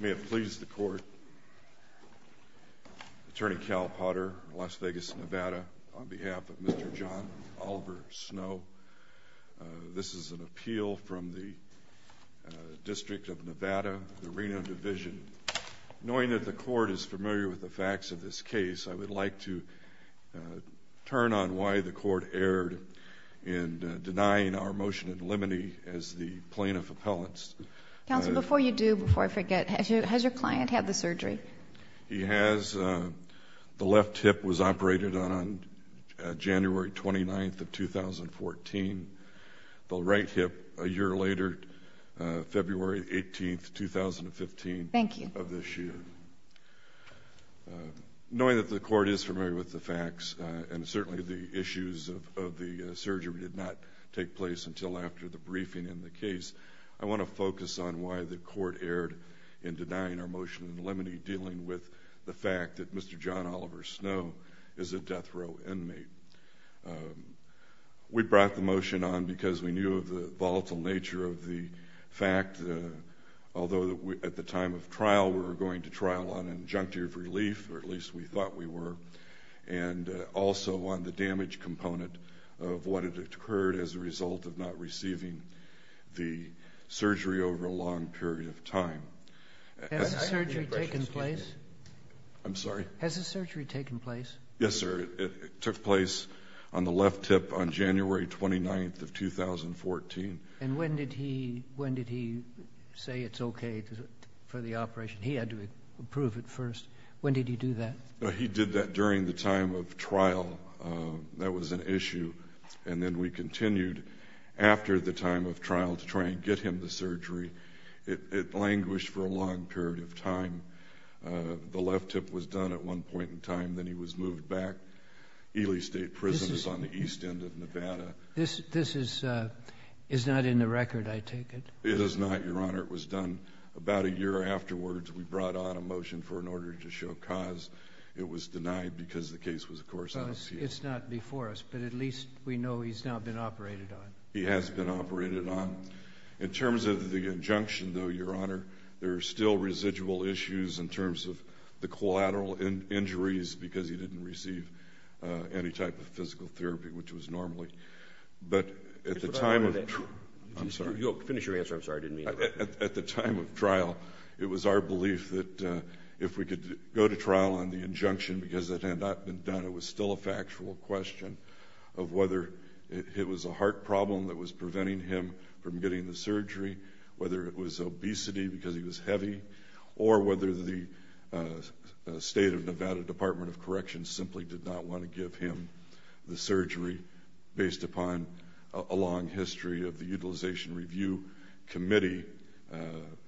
May it please the Court, Attorney Cal Potter, Las Vegas, Nevada, on behalf of Mr. John Oliver Snow, this is an appeal from the District of Nevada, the Reno Division. Knowing that the Court is familiar with the facts of this case, I would like to turn on why the Court erred in denying our motion in limine as the plaintiff appellants. Counsel, before you do, before I forget, has your client had the surgery? He has. The left hip was operated on January 29th of 2014, the right hip a year later, February 18th, 2015. Thank you. Of the surgery did not take place until after the briefing in the case. I want to focus on why the Court erred in denying our motion in limine dealing with the fact that Mr. John Oliver Snow is a death row inmate. We brought the motion on because we knew of the volatile nature of the fact, although at the time of trial we were going to trial on an injunctive relief, or at least we thought we were, and also on the damage component of what had occurred as a result of not receiving the surgery over a long period of time. Has the surgery taken place? Yes, sir. It took place on the left hip on January 29th of 2014. And when did he say it's okay for the operation? He had to approve it first. When did he do that? He did that during the time of trial. That was an issue. And then we continued after the time of trial to try and get him the surgery. It languished for a long period of time. The left hip was done at one point in time, then he was moved back. Ely State Prison is on January 29th of 2014. Did I take it? It is not, Your Honor. It was done about a year afterwards. We brought on a motion for an order to show cause. It was denied because the case was, of course, on appeal. It's not before us, but at least we know he's now been operated on. He has been operated on. In terms of the injunction, though, Your Honor, there are still residual issues in terms of the collateral injuries because he didn't receive any type of physical therapy, which was normally. But at the time of trial, it was our belief that if we could go to trial on the injunction because it had not been done, it was still a factual question of whether it was a heart problem that was preventing him from getting the surgery, whether it was obesity because he was heavy, or whether the State of Nevada Department of Corrections simply did not want to give him the surgery based upon a long history of the Utilization Review Committee,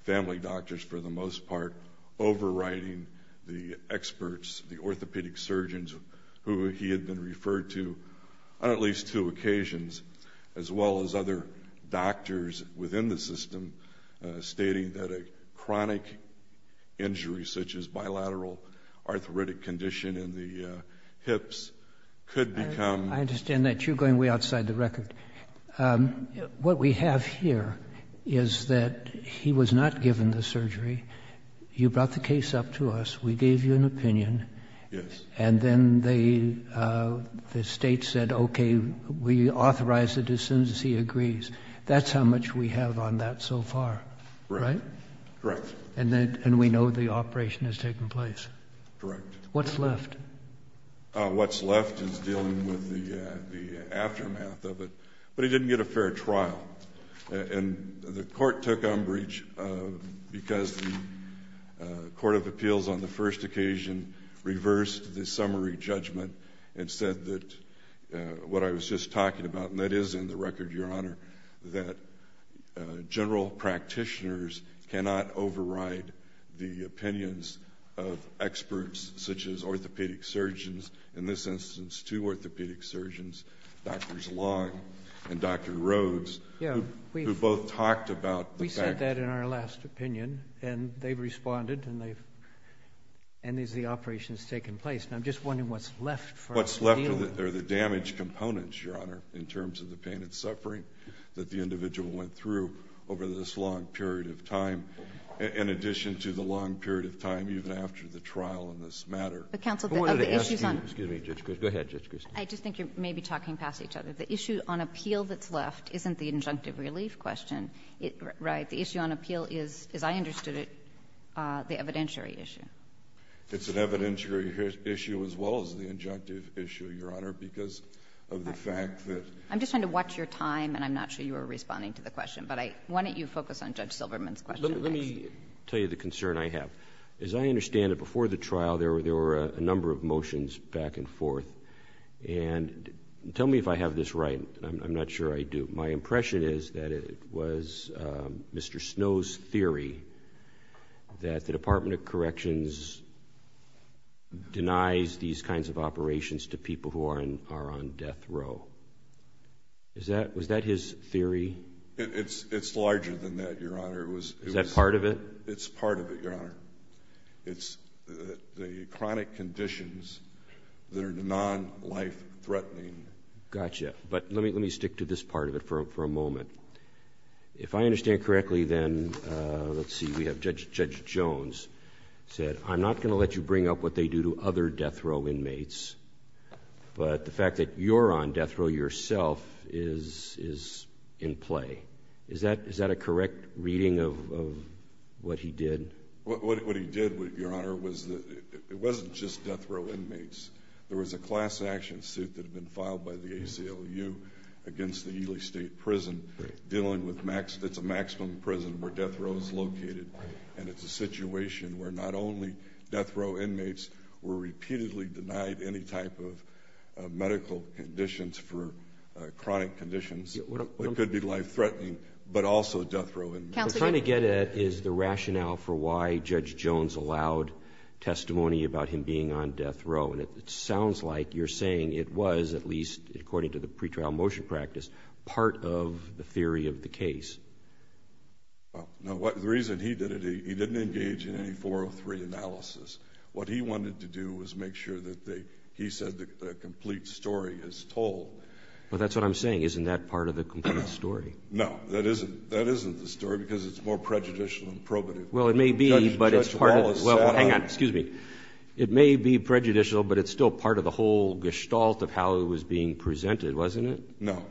family doctors for the most part, overriding the experts, the orthopedic surgeons who he had been referred to on at least two occasions, as well as other doctors within the system, stating that a chronic injury such as bilateral arthritic condition in the hips could become. I understand that you're going way outside the record. What we have here is that he was not given the surgery. You brought the case up to us. We gave you an opinion. Yes. And then the State said, okay, we authorize it as soon as he agrees. That's how much we have on that so far, right? Right. And we know the operation has taken place. Correct. What's left? What's left is dealing with the aftermath of it. But he didn't get a fair trial. And the court took umbrage because the Court of Appeals on the first occasion reversed the summary judgment and said that what I was just talking about, and that is in the record, Your Honor, that general practitioners cannot override the opinions of experts, such as orthopedic surgeons, in this instance two orthopedic surgeons, Drs. Long and Dr. Rhodes, who both talked about the fact... We said that in our last opinion, and they've responded, and the operation has taken place. I'm just wondering what's left for us to deal with. What's left are the damage components, Your Honor, in terms of the pain and suffering that the individual went through over this long period of time, in addition to the long period of time even after the trial in this matter. But, Counsel, the issues on... Excuse me, Judge Gristin. Go ahead, Judge Gristin. I just think you may be talking past each other. The issue on appeal that's left isn't the injunctive relief question. Right. The issue on appeal is, as I understood it, the evidentiary issue. It's an evidentiary issue as well as the injunctive issue, Your Honor, because of the fact that... I'm just trying to watch your time, and I'm not sure you were focused on Judge Silverman's question. Let me tell you the concern I have. As I understand it, before the trial, there were a number of motions back and forth. Tell me if I have this right. I'm not sure I do. My impression is that it was Mr. Snow's theory that the Department of Corrections denies these kinds of operations to people who are on death row. Was that his theory? It's larger than that, Your Honor. Is that part of it? It's part of it, Your Honor. It's the chronic conditions that are non-life-threatening. Gotcha. But let me stick to this part of it for a moment. If I understand correctly, then, let's see, we have Judge Jones said, I'm not going to let you bring up what they do to other death row inmates, but the death row itself is in play. Is that a correct reading of what he did? What he did, Your Honor, was that it wasn't just death row inmates. There was a class action suit that had been filed by the ACLU against the Ely State Prison dealing with... it's a maximum prison where death row is located, and it's a situation where not only death row inmates were repeatedly denied any type of medical conditions for chronic conditions that could be life-threatening, but also death row inmates. What I'm trying to get at is the rationale for why Judge Jones allowed testimony about him being on death row, and it sounds like you're saying it was, at least according to the pretrial motion practice, part of the theory of the case. Well, the reason he did it, he didn't engage in any 403 analysis. What he wanted to do was make sure that he said the complete story is told. Well, that's what I'm saying, isn't that part of the complete story? No, that isn't the story, because it's more prejudicial and probative. Well, it may be, but it's part of... Well, hang on, excuse me. It may be prejudicial, but it's still part of the whole gestalt of how it was being presented, wasn't it? No.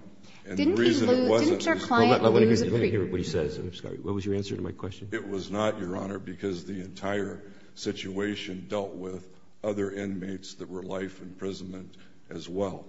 And the reason it wasn't... Didn't your client lose a... Let me hear what he says. What was your answer to my question? It was not, Your Honor, because the entire situation dealt with other inmates that were life imprisonment as well.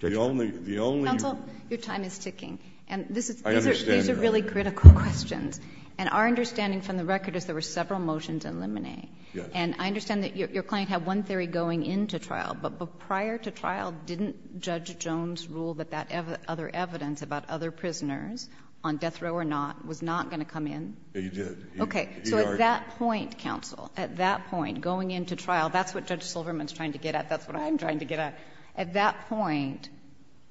The only... Counsel, your time is ticking. I understand that. These are really critical questions, and our understanding from the record is there were several motions in limine. And I understand that your client had one theory going into trial, but prior to trial, didn't Judge Jones rule that that other evidence about other prisoners on death row or not was not going to come in? He did. Okay. So at that point, counsel, at that point, going into trial, that's what Judge Silverman's trying to get at. That's what I'm trying to get at. At that point,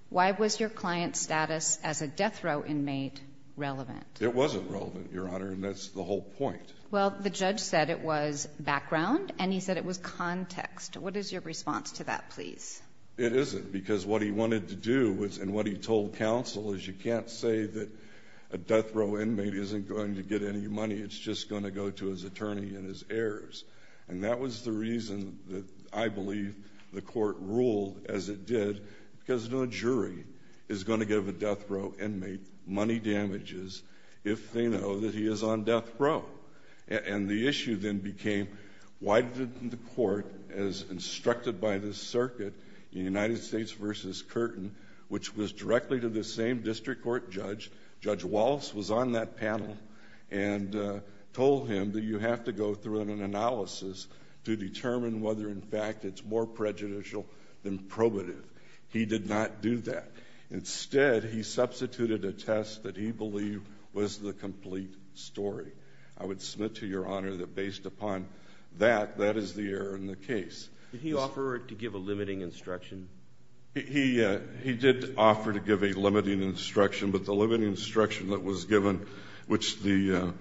why was your client's status as a death row inmate relevant? It wasn't relevant, Your Honor, and that's the whole point. Well, the judge said it was background, and he said it was context. What is your response to that, please? It isn't, because what he wanted to do was... And what he told counsel is you can't say that a death row inmate isn't going to get any money. It's just going to go to his attorney and his heirs. And that was the reason that I believe the court ruled as it did, because no jury is going to give a death row inmate money damages if they know that he is on death row. And the issue then became, why didn't the court, as instructed by this circuit in the same district court judge, Judge Walsh was on that panel and told him that you have to go through an analysis to determine whether, in fact, it's more prejudicial than probative. He did not do that. Instead, he substituted a test that he believed was the complete story. I would submit to Your Honor that based upon that, that is the error in the case. Did he do that? He did offer to give a limiting instruction, but the limiting instruction that was given, which the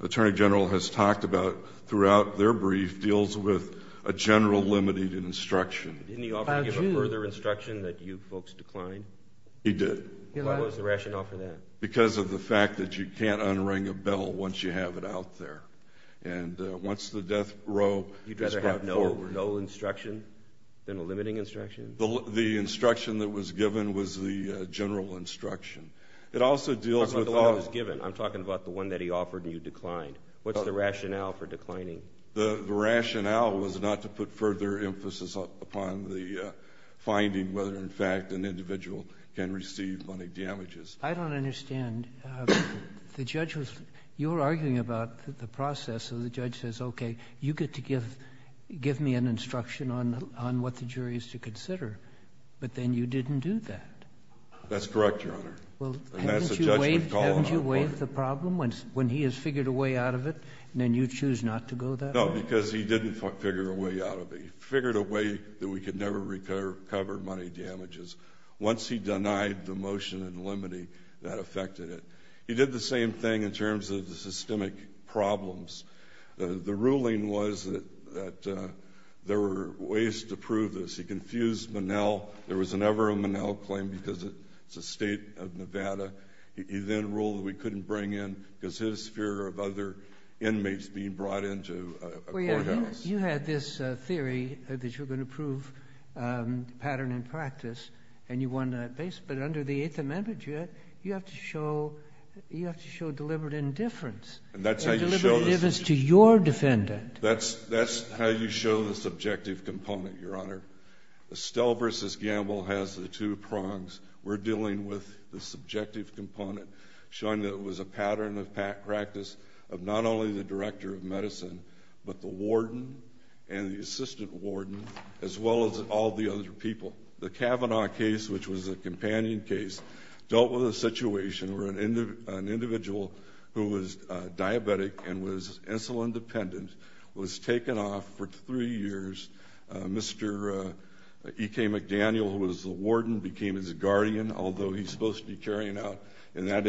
Attorney General has talked about throughout their brief, deals with a general limited instruction. Didn't he offer to give a further instruction that you folks decline? He did. Why was the ration offered that? Because of the fact that you can't unring a bell once you have it out there. And once the death row has gone forward... You'd rather have no instruction than a limiting instruction? The instruction that was given was the general instruction. It also deals with... I'm talking about the one that he offered and you declined. What's the rationale for declining? The rationale was not to put further emphasis upon the finding whether, in fact, an individual can receive money damages. I don't understand. The judge was... You were arguing about the process, so the judge says, okay, you get to give me an instruction on what the jury is to consider, but then you didn't do that. That's correct, Your Honor. And that's the judgment call on our part. Well, haven't you waived the problem when he has figured a way out of it, and then you choose not to go that way? No, because he didn't figure a way out of it. He figured a way that we could never recover money damages. Once he denied the motion and limiting, that affected it. He did the same thing in terms of the systemic problems. The ruling was that there were ways to prove this. He confused Monell. There was never a Monell claim because it's a state of Nevada. He then ruled that we couldn't bring in, because his fear of other inmates being brought into a courthouse. You had this theory that you were going to prove pattern in practice, and you won that case, but under the Eighth Amendment, you have to show deliberate indifference. And that's how you show this. Deliberate indifference to your defendant. That's how you show the subjective component, Your Honor. Estelle v. Gamble has the two prongs. We're dealing with the subjective component, showing that it was a pattern of practice of not only the director of medicine, but the warden and the assistant warden, as well as all the other people. The Kavanaugh case, which was a companion case, dealt with a situation where an individual who was diabetic and was insulin dependent was taken off for three years. Mr. E.K. McDaniel, who was the warden, became his guardian, although he's supposed to be carrying out, in that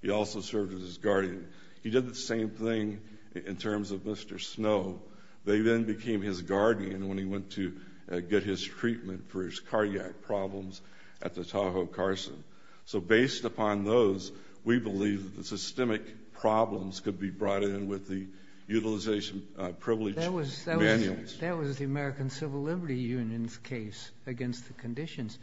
he also served as his guardian. He did the same thing in terms of Mr. Snow. They then became his guardian when he went to get his treatment for his cardiac problems at the Tahoe Carson. So based upon those, we believe that the systemic problems could be brought in with the utilization privilege manuals. That was the American Civil Liberty Union's case against the conditions.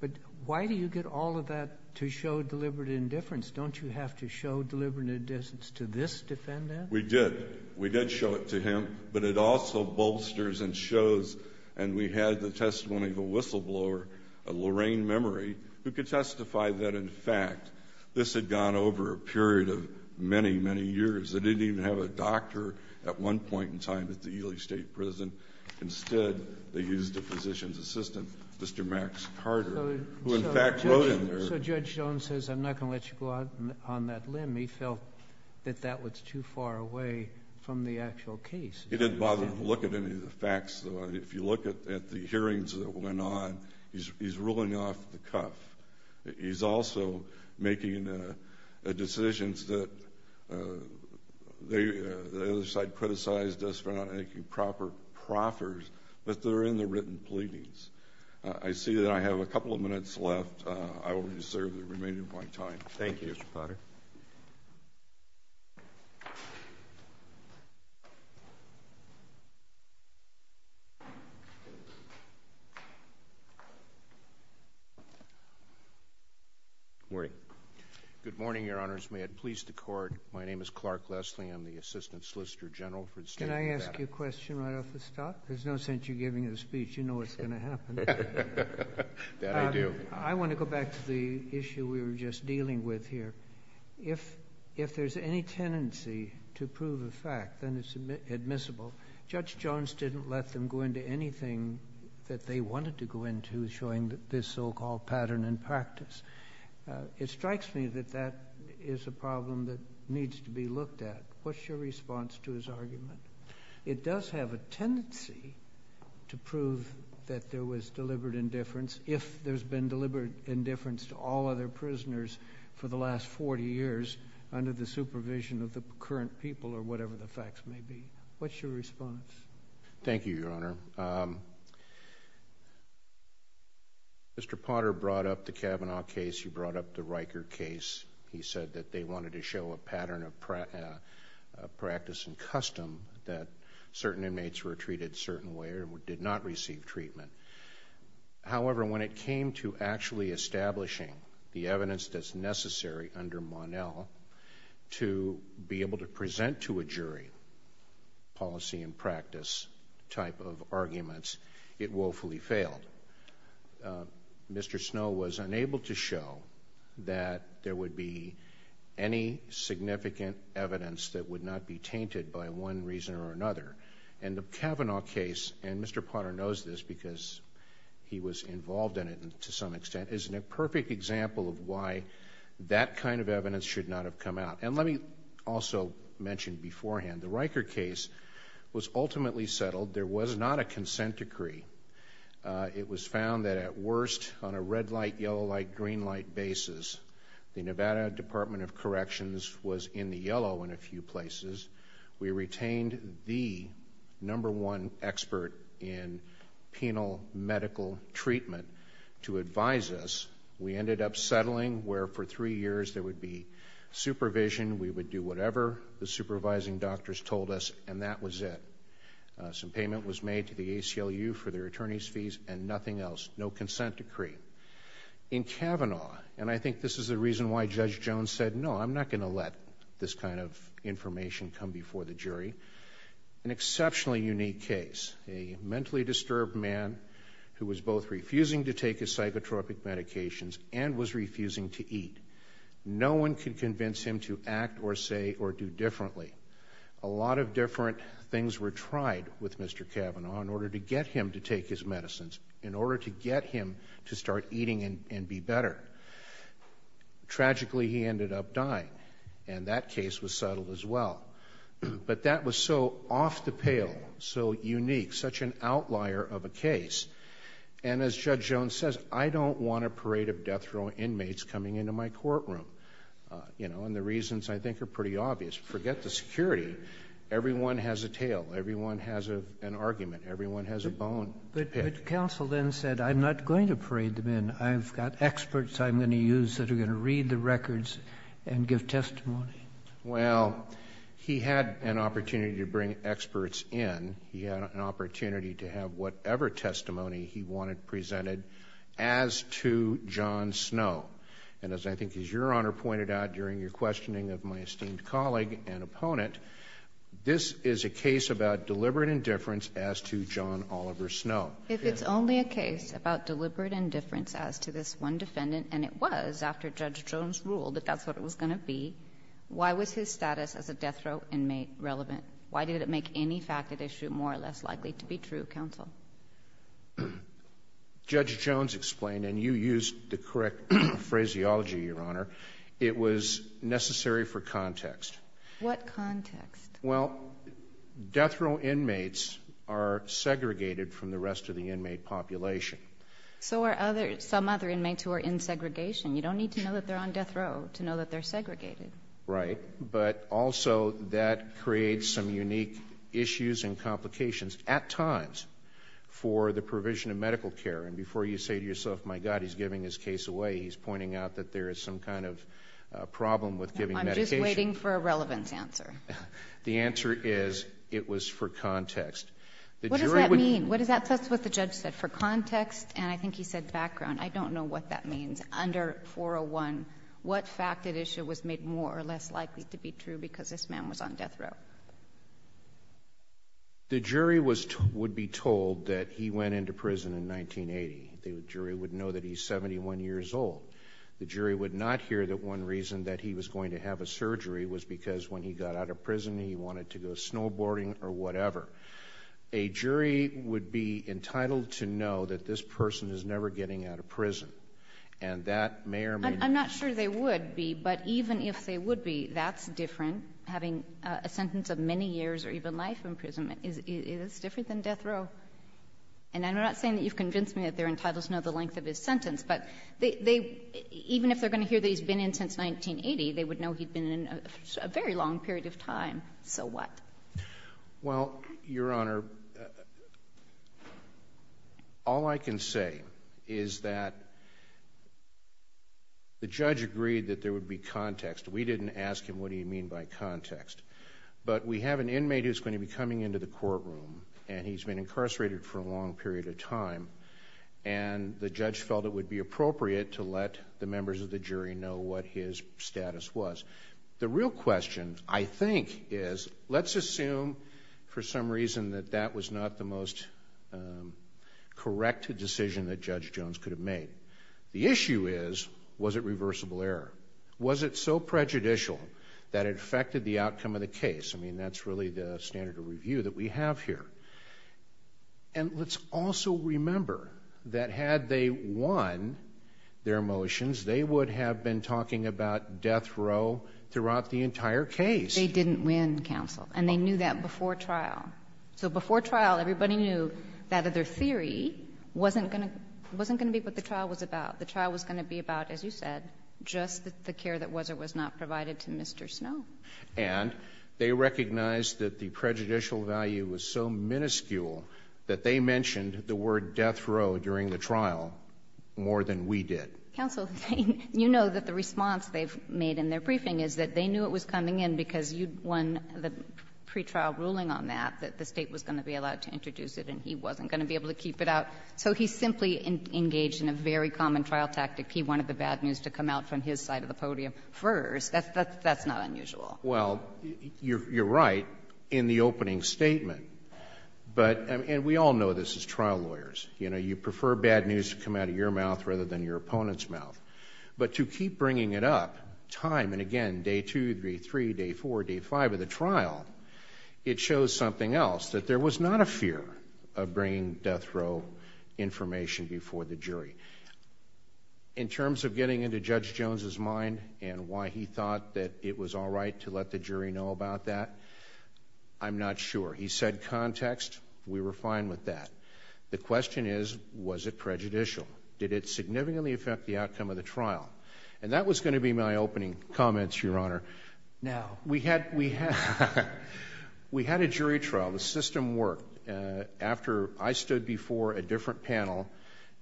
But why do you get all of that to show deliberate indifference? Don't you have to show deliberate indifference to this defendant? We did. We did show it to him, but it also bolsters and shows, and we had the testimony of a whistleblower, Lorraine Memory, who could testify that, in fact, this had gone over a period of many, many years. They didn't even have a doctor at one point in time at the Ely State Prison. Instead, they used a physician's assistant, Mr. Max Carter, who in fact wrote in there. So Judge Jones says, I'm not going to let you go out on that limb. He felt that that was too far away from the actual case. He didn't bother to look at any of the facts. If you look at the hearings that went on, he's ruling off the cuff. He's also making decisions that the other side criticized us for not making proper proffers, but they're in the written pleadings. I see that I have a couple of minutes left. I will reserve the remainder of my time. Thank you, Mr. Potter. Good morning, Your Honors. May it please the Court, my name is Clark Leslie. I'm the Assistant Solicitor General for the State of Nevada. Can I ask you a question right off the start? There's no sense in you giving a speech. You know what's going to happen. That I do. I want to go back to the issue we were just dealing with here. If there's any tendency to prove a fact, then it's admissible. Judge Jones didn't let them go into anything that they wanted to go into showing this so-called pattern in practice. It strikes me that that is a problem that needs to be looked at. What's your response to his argument? It does have a tendency to prove that there was deliberate indifference if there's been deliberate indifference to all other prisoners for the last 40 years under the supervision of the current people or whatever the facts may be. What's your response? Thank you, Your Honor. Mr. Potter brought up the Kavanaugh case. He brought up the Riker case. He said that they wanted to show a pattern of practice and custom that certain inmates were treated a certain way or did not receive treatment. However, when it came to actually establishing the evidence that's necessary under Monel to be able to present to a jury policy and practice type of arguments, it woefully failed. Mr. Snow was unable to show that there would be any significant evidence that would not be tainted by one reason or another. And the Kavanaugh case, and Mr. Potter knows this because he was involved in it to some extent, is a perfect example of why that kind of evidence should not have come out. And let me also mention beforehand, the Riker case was ultimately settled. There was not a consent decree. It was found that at worst on a red light, yellow light, green light basis, the Nevada Department of Corrections was in the yellow in a few places. We retained the number one expert in penal medical treatment to advise us. We ended up settling where for three years there would be supervision. We would do whatever the supervising doctors told us and that was it. Some payment was made to the ACLU for their attorney's fees and nothing else. No consent decree. In Kavanaugh, and I think this is the reason why Judge Jones said, no, I'm not going to let this kind of information come before the jury, an exceptionally unique case. A mentally disturbed man who was both refusing to take his psychotropic medications and was refusing to eat. No one could convince him to act or say or do differently. A lot of different things were tried with Mr. Kavanaugh in order to get him to take And that case was settled as well. But that was so off the pale, so unique, such an outlier of a case. And as Judge Jones says, I don't want a parade of death row inmates coming into my courtroom. You know, and the reasons I think are pretty obvious. Forget the security. Everyone has a tail. Everyone has an argument. Everyone has a bone to pick. But counsel then said, I'm not going to parade them in. I've got experts I'm going to use that are going to read the records and give testimony. Well, he had an opportunity to bring experts in. He had an opportunity to have whatever testimony he wanted presented as to John Snow. And as I think as your Honor pointed out during your questioning of my esteemed colleague and opponent, this is a case about deliberate indifference as to John Oliver Snow. If it's only a case about deliberate indifference as to this one defendant, and it was after Judge Jones ruled that that's what it was going to be, why was his status as a death row inmate relevant? Why did it make any fact that issue more or less likely to be true, counsel? Judge Jones explained, and you used the correct phraseology, your Honor. It was necessary for context. What context? Well, death row inmates are segregated from the rest of the inmate population. So are some other inmates who are in segregation. You don't need to know that they're on death row to know that they're segregated. Right. But also that creates some unique issues and complications at times for the provision of medical care. And before you say to yourself, my God, he's giving his case away, he's pointing out that there is some kind of problem with giving medication. I'm waiting for a relevance answer. The answer is it was for context. What does that mean? That's what the judge said, for context. And I think he said background. I don't know what that means. Under 401, what fact that issue was made more or less likely to be true because this man was on death row? The jury would be told that he went into prison in 1980. The jury would know that he's 71 years old. The jury would not hear that one reason that he was going to have a surgery was because when he got out of prison, he wanted to go snowboarding or whatever. A jury would be entitled to know that this person is never getting out of prison. And that may or may not be true. I'm not sure they would be, but even if they would be, that's different. Having a sentence of many years or even life imprisonment is different than death row. And I'm not saying that you've convinced me that they're entitled to know the length of his sentence, but even if they're going to hear that he's been in since 1980, they would know he'd been in a very long period of time. So what? Well, Your Honor, all I can say is that the judge agreed that there would be context. We didn't ask him, what do you mean by context? But we have an inmate who's going to be coming into the courtroom, and he's been incarcerated for a long period of time. And the judge felt it would be appropriate to let the members of the jury know what his status was. The real question, I think, is let's assume for some reason that that was not the most correct decision that Judge Jones could have made. The issue is, was it reversible error? Was it so prejudicial that it affected the outcome of the case? I mean, that's really the standard of review that we have here. And let's also remember that had they won their motions, they would have been talking about death row throughout the entire case. They didn't win, counsel. And they knew that before trial. So before trial, everybody knew that their theory wasn't going to be what the trial was about. The trial was going to be about, as you said, just the care that was or was not provided to Mr. Snow. And they recognized that the prejudicial value was so minuscule that they mentioned the word death row during the trial more than we did. Counsel, you know that the response they've made in their briefing is that they knew it was coming in because you'd won the pretrial ruling on that, that the State was going to be allowed to introduce it, and he wasn't going to be able to keep it out. So he simply engaged in a very common trial tactic. He wanted the bad news to come out from his side of the podium first. That's not unusual. Well, you're right in the opening statement. And we all know this as trial lawyers. You prefer bad news to come out of your mouth rather than your opponent's mouth. But to keep bringing it up time and again, day two, day three, day four, day five of the trial, it shows something else, that there was not a fear of bringing death row information before the jury. In terms of getting into Judge Jones's mind and why he thought that it was all right to let the jury know about that, I'm not sure. He said context. We were fine with that. The question is, was it prejudicial? Did it significantly affect the outcome of the trial? And that was going to be my opening comments, Your Honor. Now, we had a jury trial. The system worked. After I stood before a different panel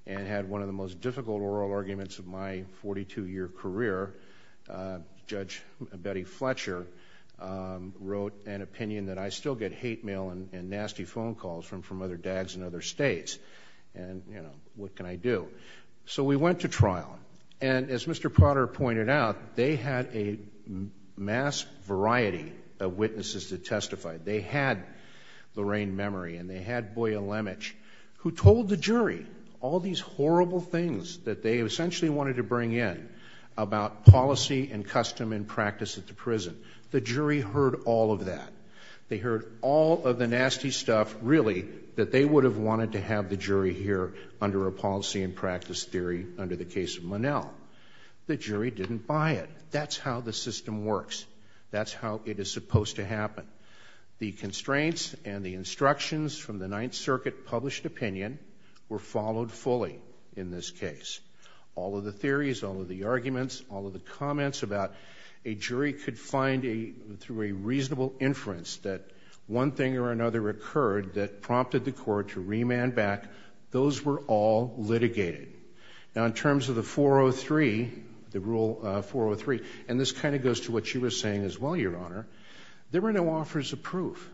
and had one of the most difficult oral arguments of my 42-year career, Judge Betty Fletcher wrote an opinion that I still get hate mail and nasty phone calls from other DAGs in other states. And, you know, what can I do? So we went to trial. And as Mr. Potter pointed out, they had a mass variety of witnesses to testify. They had Lorraine Memory and they had Boya Lemmich, who told the jury all these horrible things that they essentially wanted to bring in about policy and custom and practice at the prison. The jury heard all of that. They heard all of the nasty stuff, really, that they would have wanted to have the jury hear under a policy and practice theory under the case of Monell. The jury didn't buy it. That's how the system works. That's how it is supposed to happen. The constraints and the instructions from the Ninth Circuit published opinion were followed fully in this case. All of the theories, all of the arguments, all of the comments about a jury could find through a reasonable inference that one thing or another occurred that prompted the court to remand back, those were all litigated. Now, in terms of the 403, the Rule 403, and this kind of goes to what you were saying as well, Your Honor, there were no offers of proof.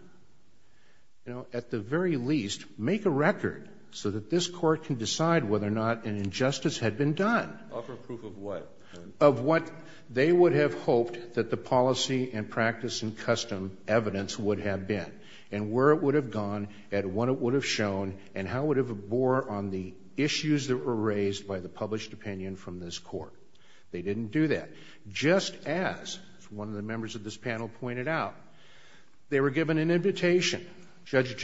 You know, at the very least, make a record so that this Court can decide whether or not an injustice had been done. Offer of proof of what? Of what they would have hoped that the policy and practice and custom evidence would have been, and where it would have gone, and what it would have shown, and how it would have bore on the issues that were raised by the published opinion from this Court. They didn't do that. Just as one of the members of this panel pointed out, they were given an invitation. Judge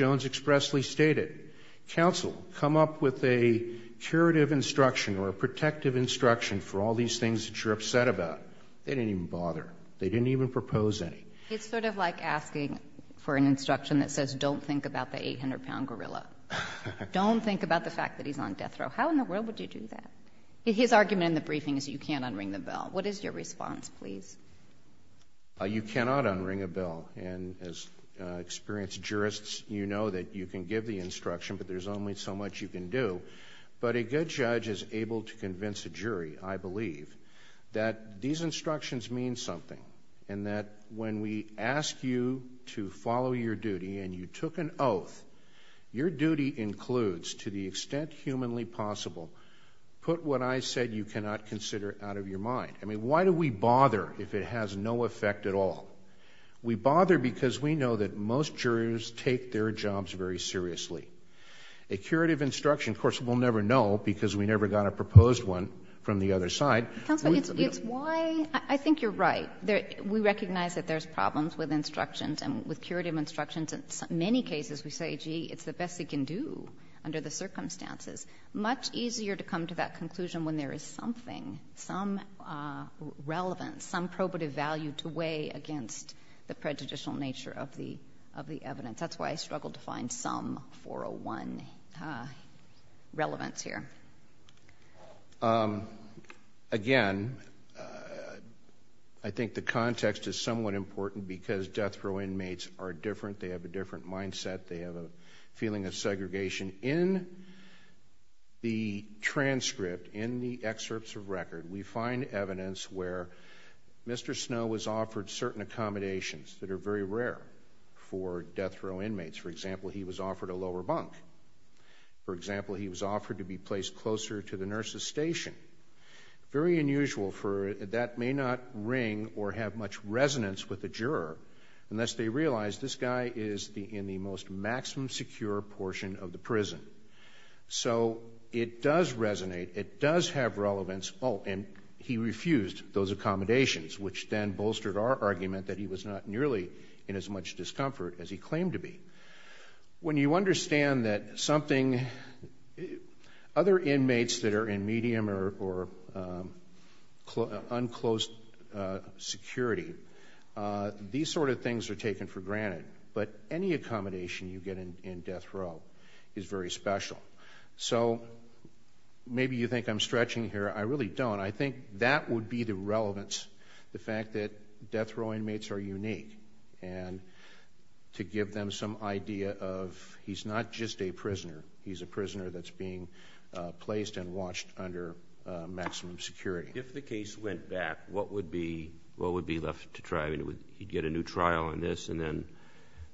counsel, come up with a curative instruction or a protective instruction for all these things that you're upset about. They didn't even bother. They didn't even propose any. It's sort of like asking for an instruction that says don't think about the 800-pound gorilla. Don't think about the fact that he's on death row. How in the world would you do that? His argument in the briefing is you can't unring the bell. What is your response, please? You cannot unring a bell. And as experienced jurists, you know that you can give the instruction but there's only so much you can do. But a good judge is able to convince a jury, I believe, that these instructions mean something. And that when we ask you to follow your duty and you took an oath, your duty includes, to the extent humanly possible, put what I said you cannot consider out of your mind. I mean, why do we bother if it has no effect at all? We bother because we know that most a curative instruction, of course, we'll never know because we never got a proposed one from the other side. Counsel, it's why, I think you're right. We recognize that there's problems with instructions and with curative instructions. In many cases, we say, gee, it's the best they can do under the circumstances. Much easier to come to that conclusion when there is something, some relevance, some probative value to weigh against the prejudicial nature of the evidence. That's why I struggled to find some 401 relevance here. Again, I think the context is somewhat important because death row inmates are different. They have a different mindset. They have a feeling of segregation. In the transcript, in the excerpts of record, we find evidence where Mr. Snow was offered certain accommodations that are very rare for death row inmates. For example, he was offered a lower bunk. For example, he was offered to be placed closer to the nurse's station. Very unusual for, that may not ring or have much resonance with the juror unless they realize this guy is in the most maximum secure portion of the prison. So it does resonate. It does have relevance. Oh, and he refused those accommodations, which then bolstered our argument that he was not nearly in as much discomfort as he claimed to be. When you understand that something, other inmates that are in medium or unclosed security, these sort of things are taken for granted. But any accommodation you get in death row is very special. So maybe you think I'm stretching here. I really don't. I think that would be the relevance, the fact that death row inmates are unique. And to give them some idea of he's not just a prisoner. He's a prisoner that's being placed and watched under maximum security. If the case went back, what would be left to try? I mean, you'd get a new trial on this and then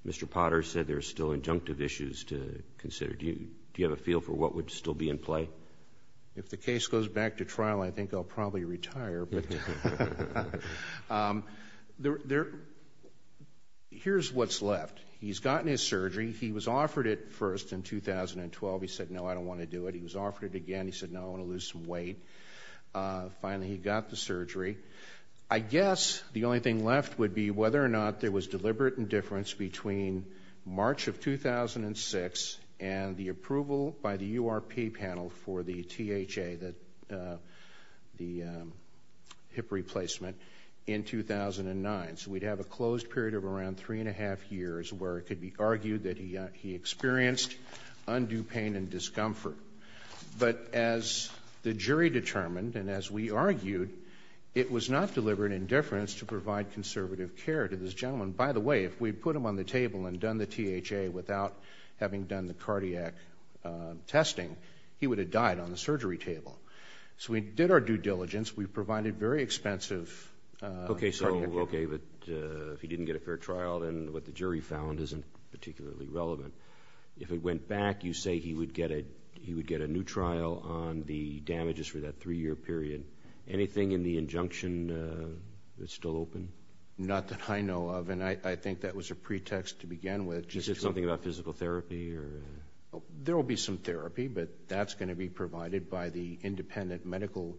Mr. Potter said there's still injunctive issues to consider. Do you have a feel for what would still be in play? Well, if the case goes back to trial, I think I'll probably retire. Here's what's left. He's gotten his surgery. He was offered it first in 2012. He said no, I don't want to do it. He was offered it again. He said no, I want to lose some weight. Finally, he got the surgery. I guess the only thing left would be whether or not there was deliberate indifference between March of 2006 and the approval by the URP panel for the THA, the hip replacement, in 2009. So we'd have a closed period of around three and a half years where it could be argued that he experienced undue pain and discomfort. But as the jury determined and as we argued, it was not deliberate indifference to provide conservative care to this gentleman. By the way, if we'd put him on the table and done the THA without having done the cardiac testing, he would have died on the surgery table. So we did our due diligence. We provided very expensive... Okay, so, okay, but if he didn't get a fair trial, then what the jury found isn't particularly relevant. If it went back, you say he would get a new trial on the damages for that three year period. Anything in the injunction that's still open? Not that I know of. And I think that was a pretext to begin with. Is it something about physical therapy? There will be some therapy, but that's going to be provided by the independent medical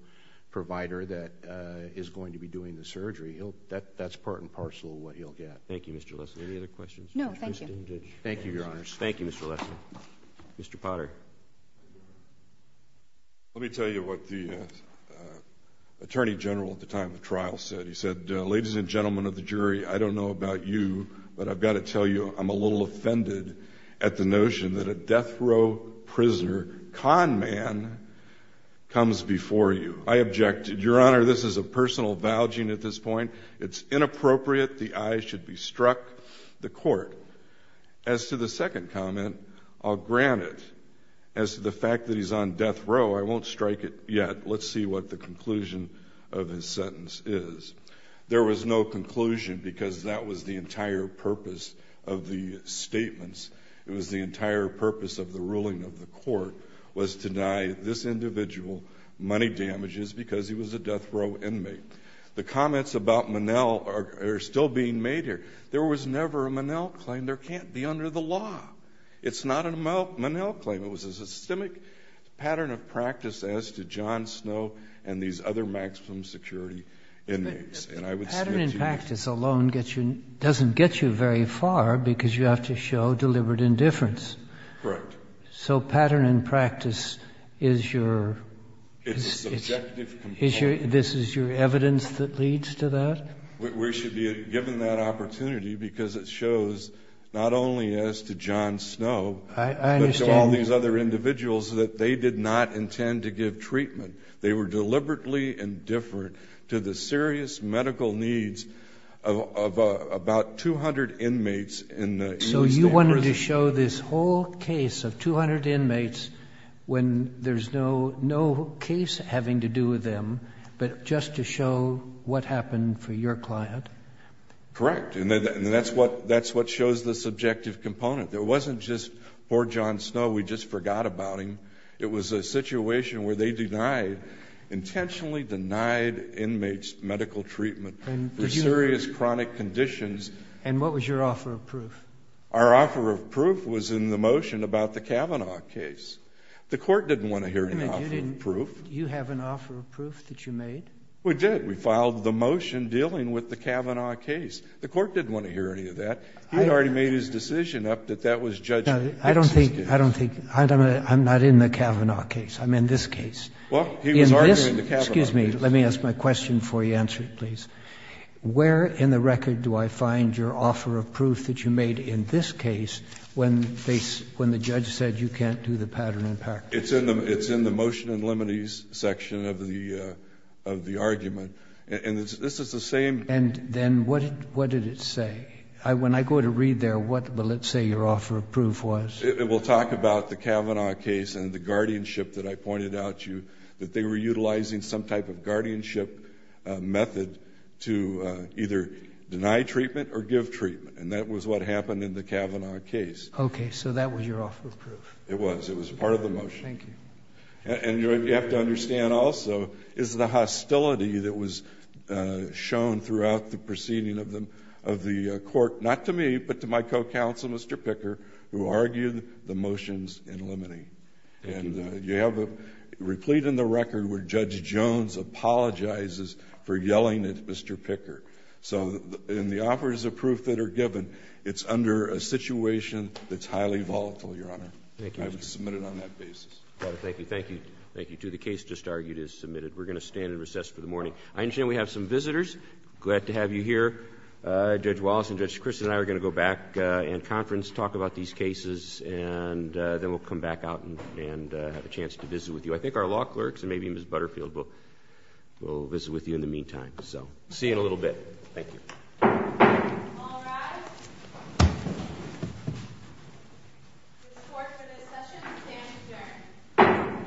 provider that is going to be doing the surgery. That's part and parcel of what he'll get. Thank you, Mr. Lessing. Any other questions? No, thank you. Thank you, Your Honors. Thank you, Mr. Lessing. Mr. Potter. Let me tell you what the Attorney General at the time of the trial said. He said, ladies and gentlemen of the jury, I don't know about you, but I've got to tell you, I'm a little offended at the notion that a death row prisoner con man comes before you. I object. Your Honor, this is a personal vouching at this point. It's inappropriate. The eye should be struck the court. As to the second comment, I'll grant it. As to the fact that he's on death row, I won't because that was the entire purpose of the statements. It was the entire purpose of the ruling of the court was to deny this individual money damages because he was a death row inmate. The comments about Monell are still being made here. There was never a Monell claim. There can't be under the law. It's not a Monell claim. It was a systemic pattern of practice as to John Snow and these other maximum security inmates. Pattern in practice alone doesn't get you very far because you have to show deliberate indifference. Correct. So pattern in practice is your... It's a subjective complaint. This is your evidence that leads to that? We should be given that opportunity because it shows not only as to John Snow... I understand. ...but to all these other individuals that they did not intend to give treatment. They were deliberately indifferent to the serious medical needs of about 200 inmates in the state prison. So you wanted to show this whole case of 200 inmates when there's no case having to do with them, but just to show what happened for your client? Correct. And that's what shows the subjective component. It wasn't just poor John Snow, we just forgot about him. It was a situation where they intentionally denied inmates medical treatment for serious chronic conditions. And what was your offer of proof? Our offer of proof was in the motion about the Kavanaugh case. The court didn't want to hear any offer of proof. You have an offer of proof that you made? We did. We filed the motion dealing with the Kavanaugh case. The court didn't want to hear any of that. He had already made his decision up that that was judgment. I don't think, I don't think, I'm not in the Kavanaugh case. I'm in this case. Well, he was already in the Kavanaugh case. Excuse me. Let me ask my question before you answer it, please. Where in the record do I find your offer of proof that you made in this case when the judge said you can't do the pattern in practice? It's in the motion and liminese section of the argument. And this is the same... And then what did it say? When I go to read there, what will it say, your offer of proof, was? It will talk about the Kavanaugh case and the guardianship that I pointed out to you, that they were utilizing some type of guardianship method to either deny treatment or give treatment. And that was what happened in the Kavanaugh case. Okay. So that was your offer of proof. It was. It was part of the motion. Thank you. And you have to understand also is the hostility that was shown throughout the proceeding of the court, not to me, but to my co-counsel, Mr. Picker, who argued the motions in limine. And you have a replete in the record where Judge Jones apologizes for yelling at Mr. Picker. So in the offers of proof that are given, it's under a situation that's highly volatile, Your Honor. Thank you. I would submit it on that basis. Thank you. Thank you. Thank you, too. The case just argued is submitted. We're going to stand and recess for the morning. I understand we have some visitors. Glad to have you here. Judge Wallace and Judge Christin and I are going to go back and conference, talk about these cases, and then we'll come back out and have a chance to visit with you. I think our law clerks and maybe Ms. Butterfield will visit with you in the meantime. So see you in a little bit. Thank you. All rise. The court for this session stands adjourned. Thank you.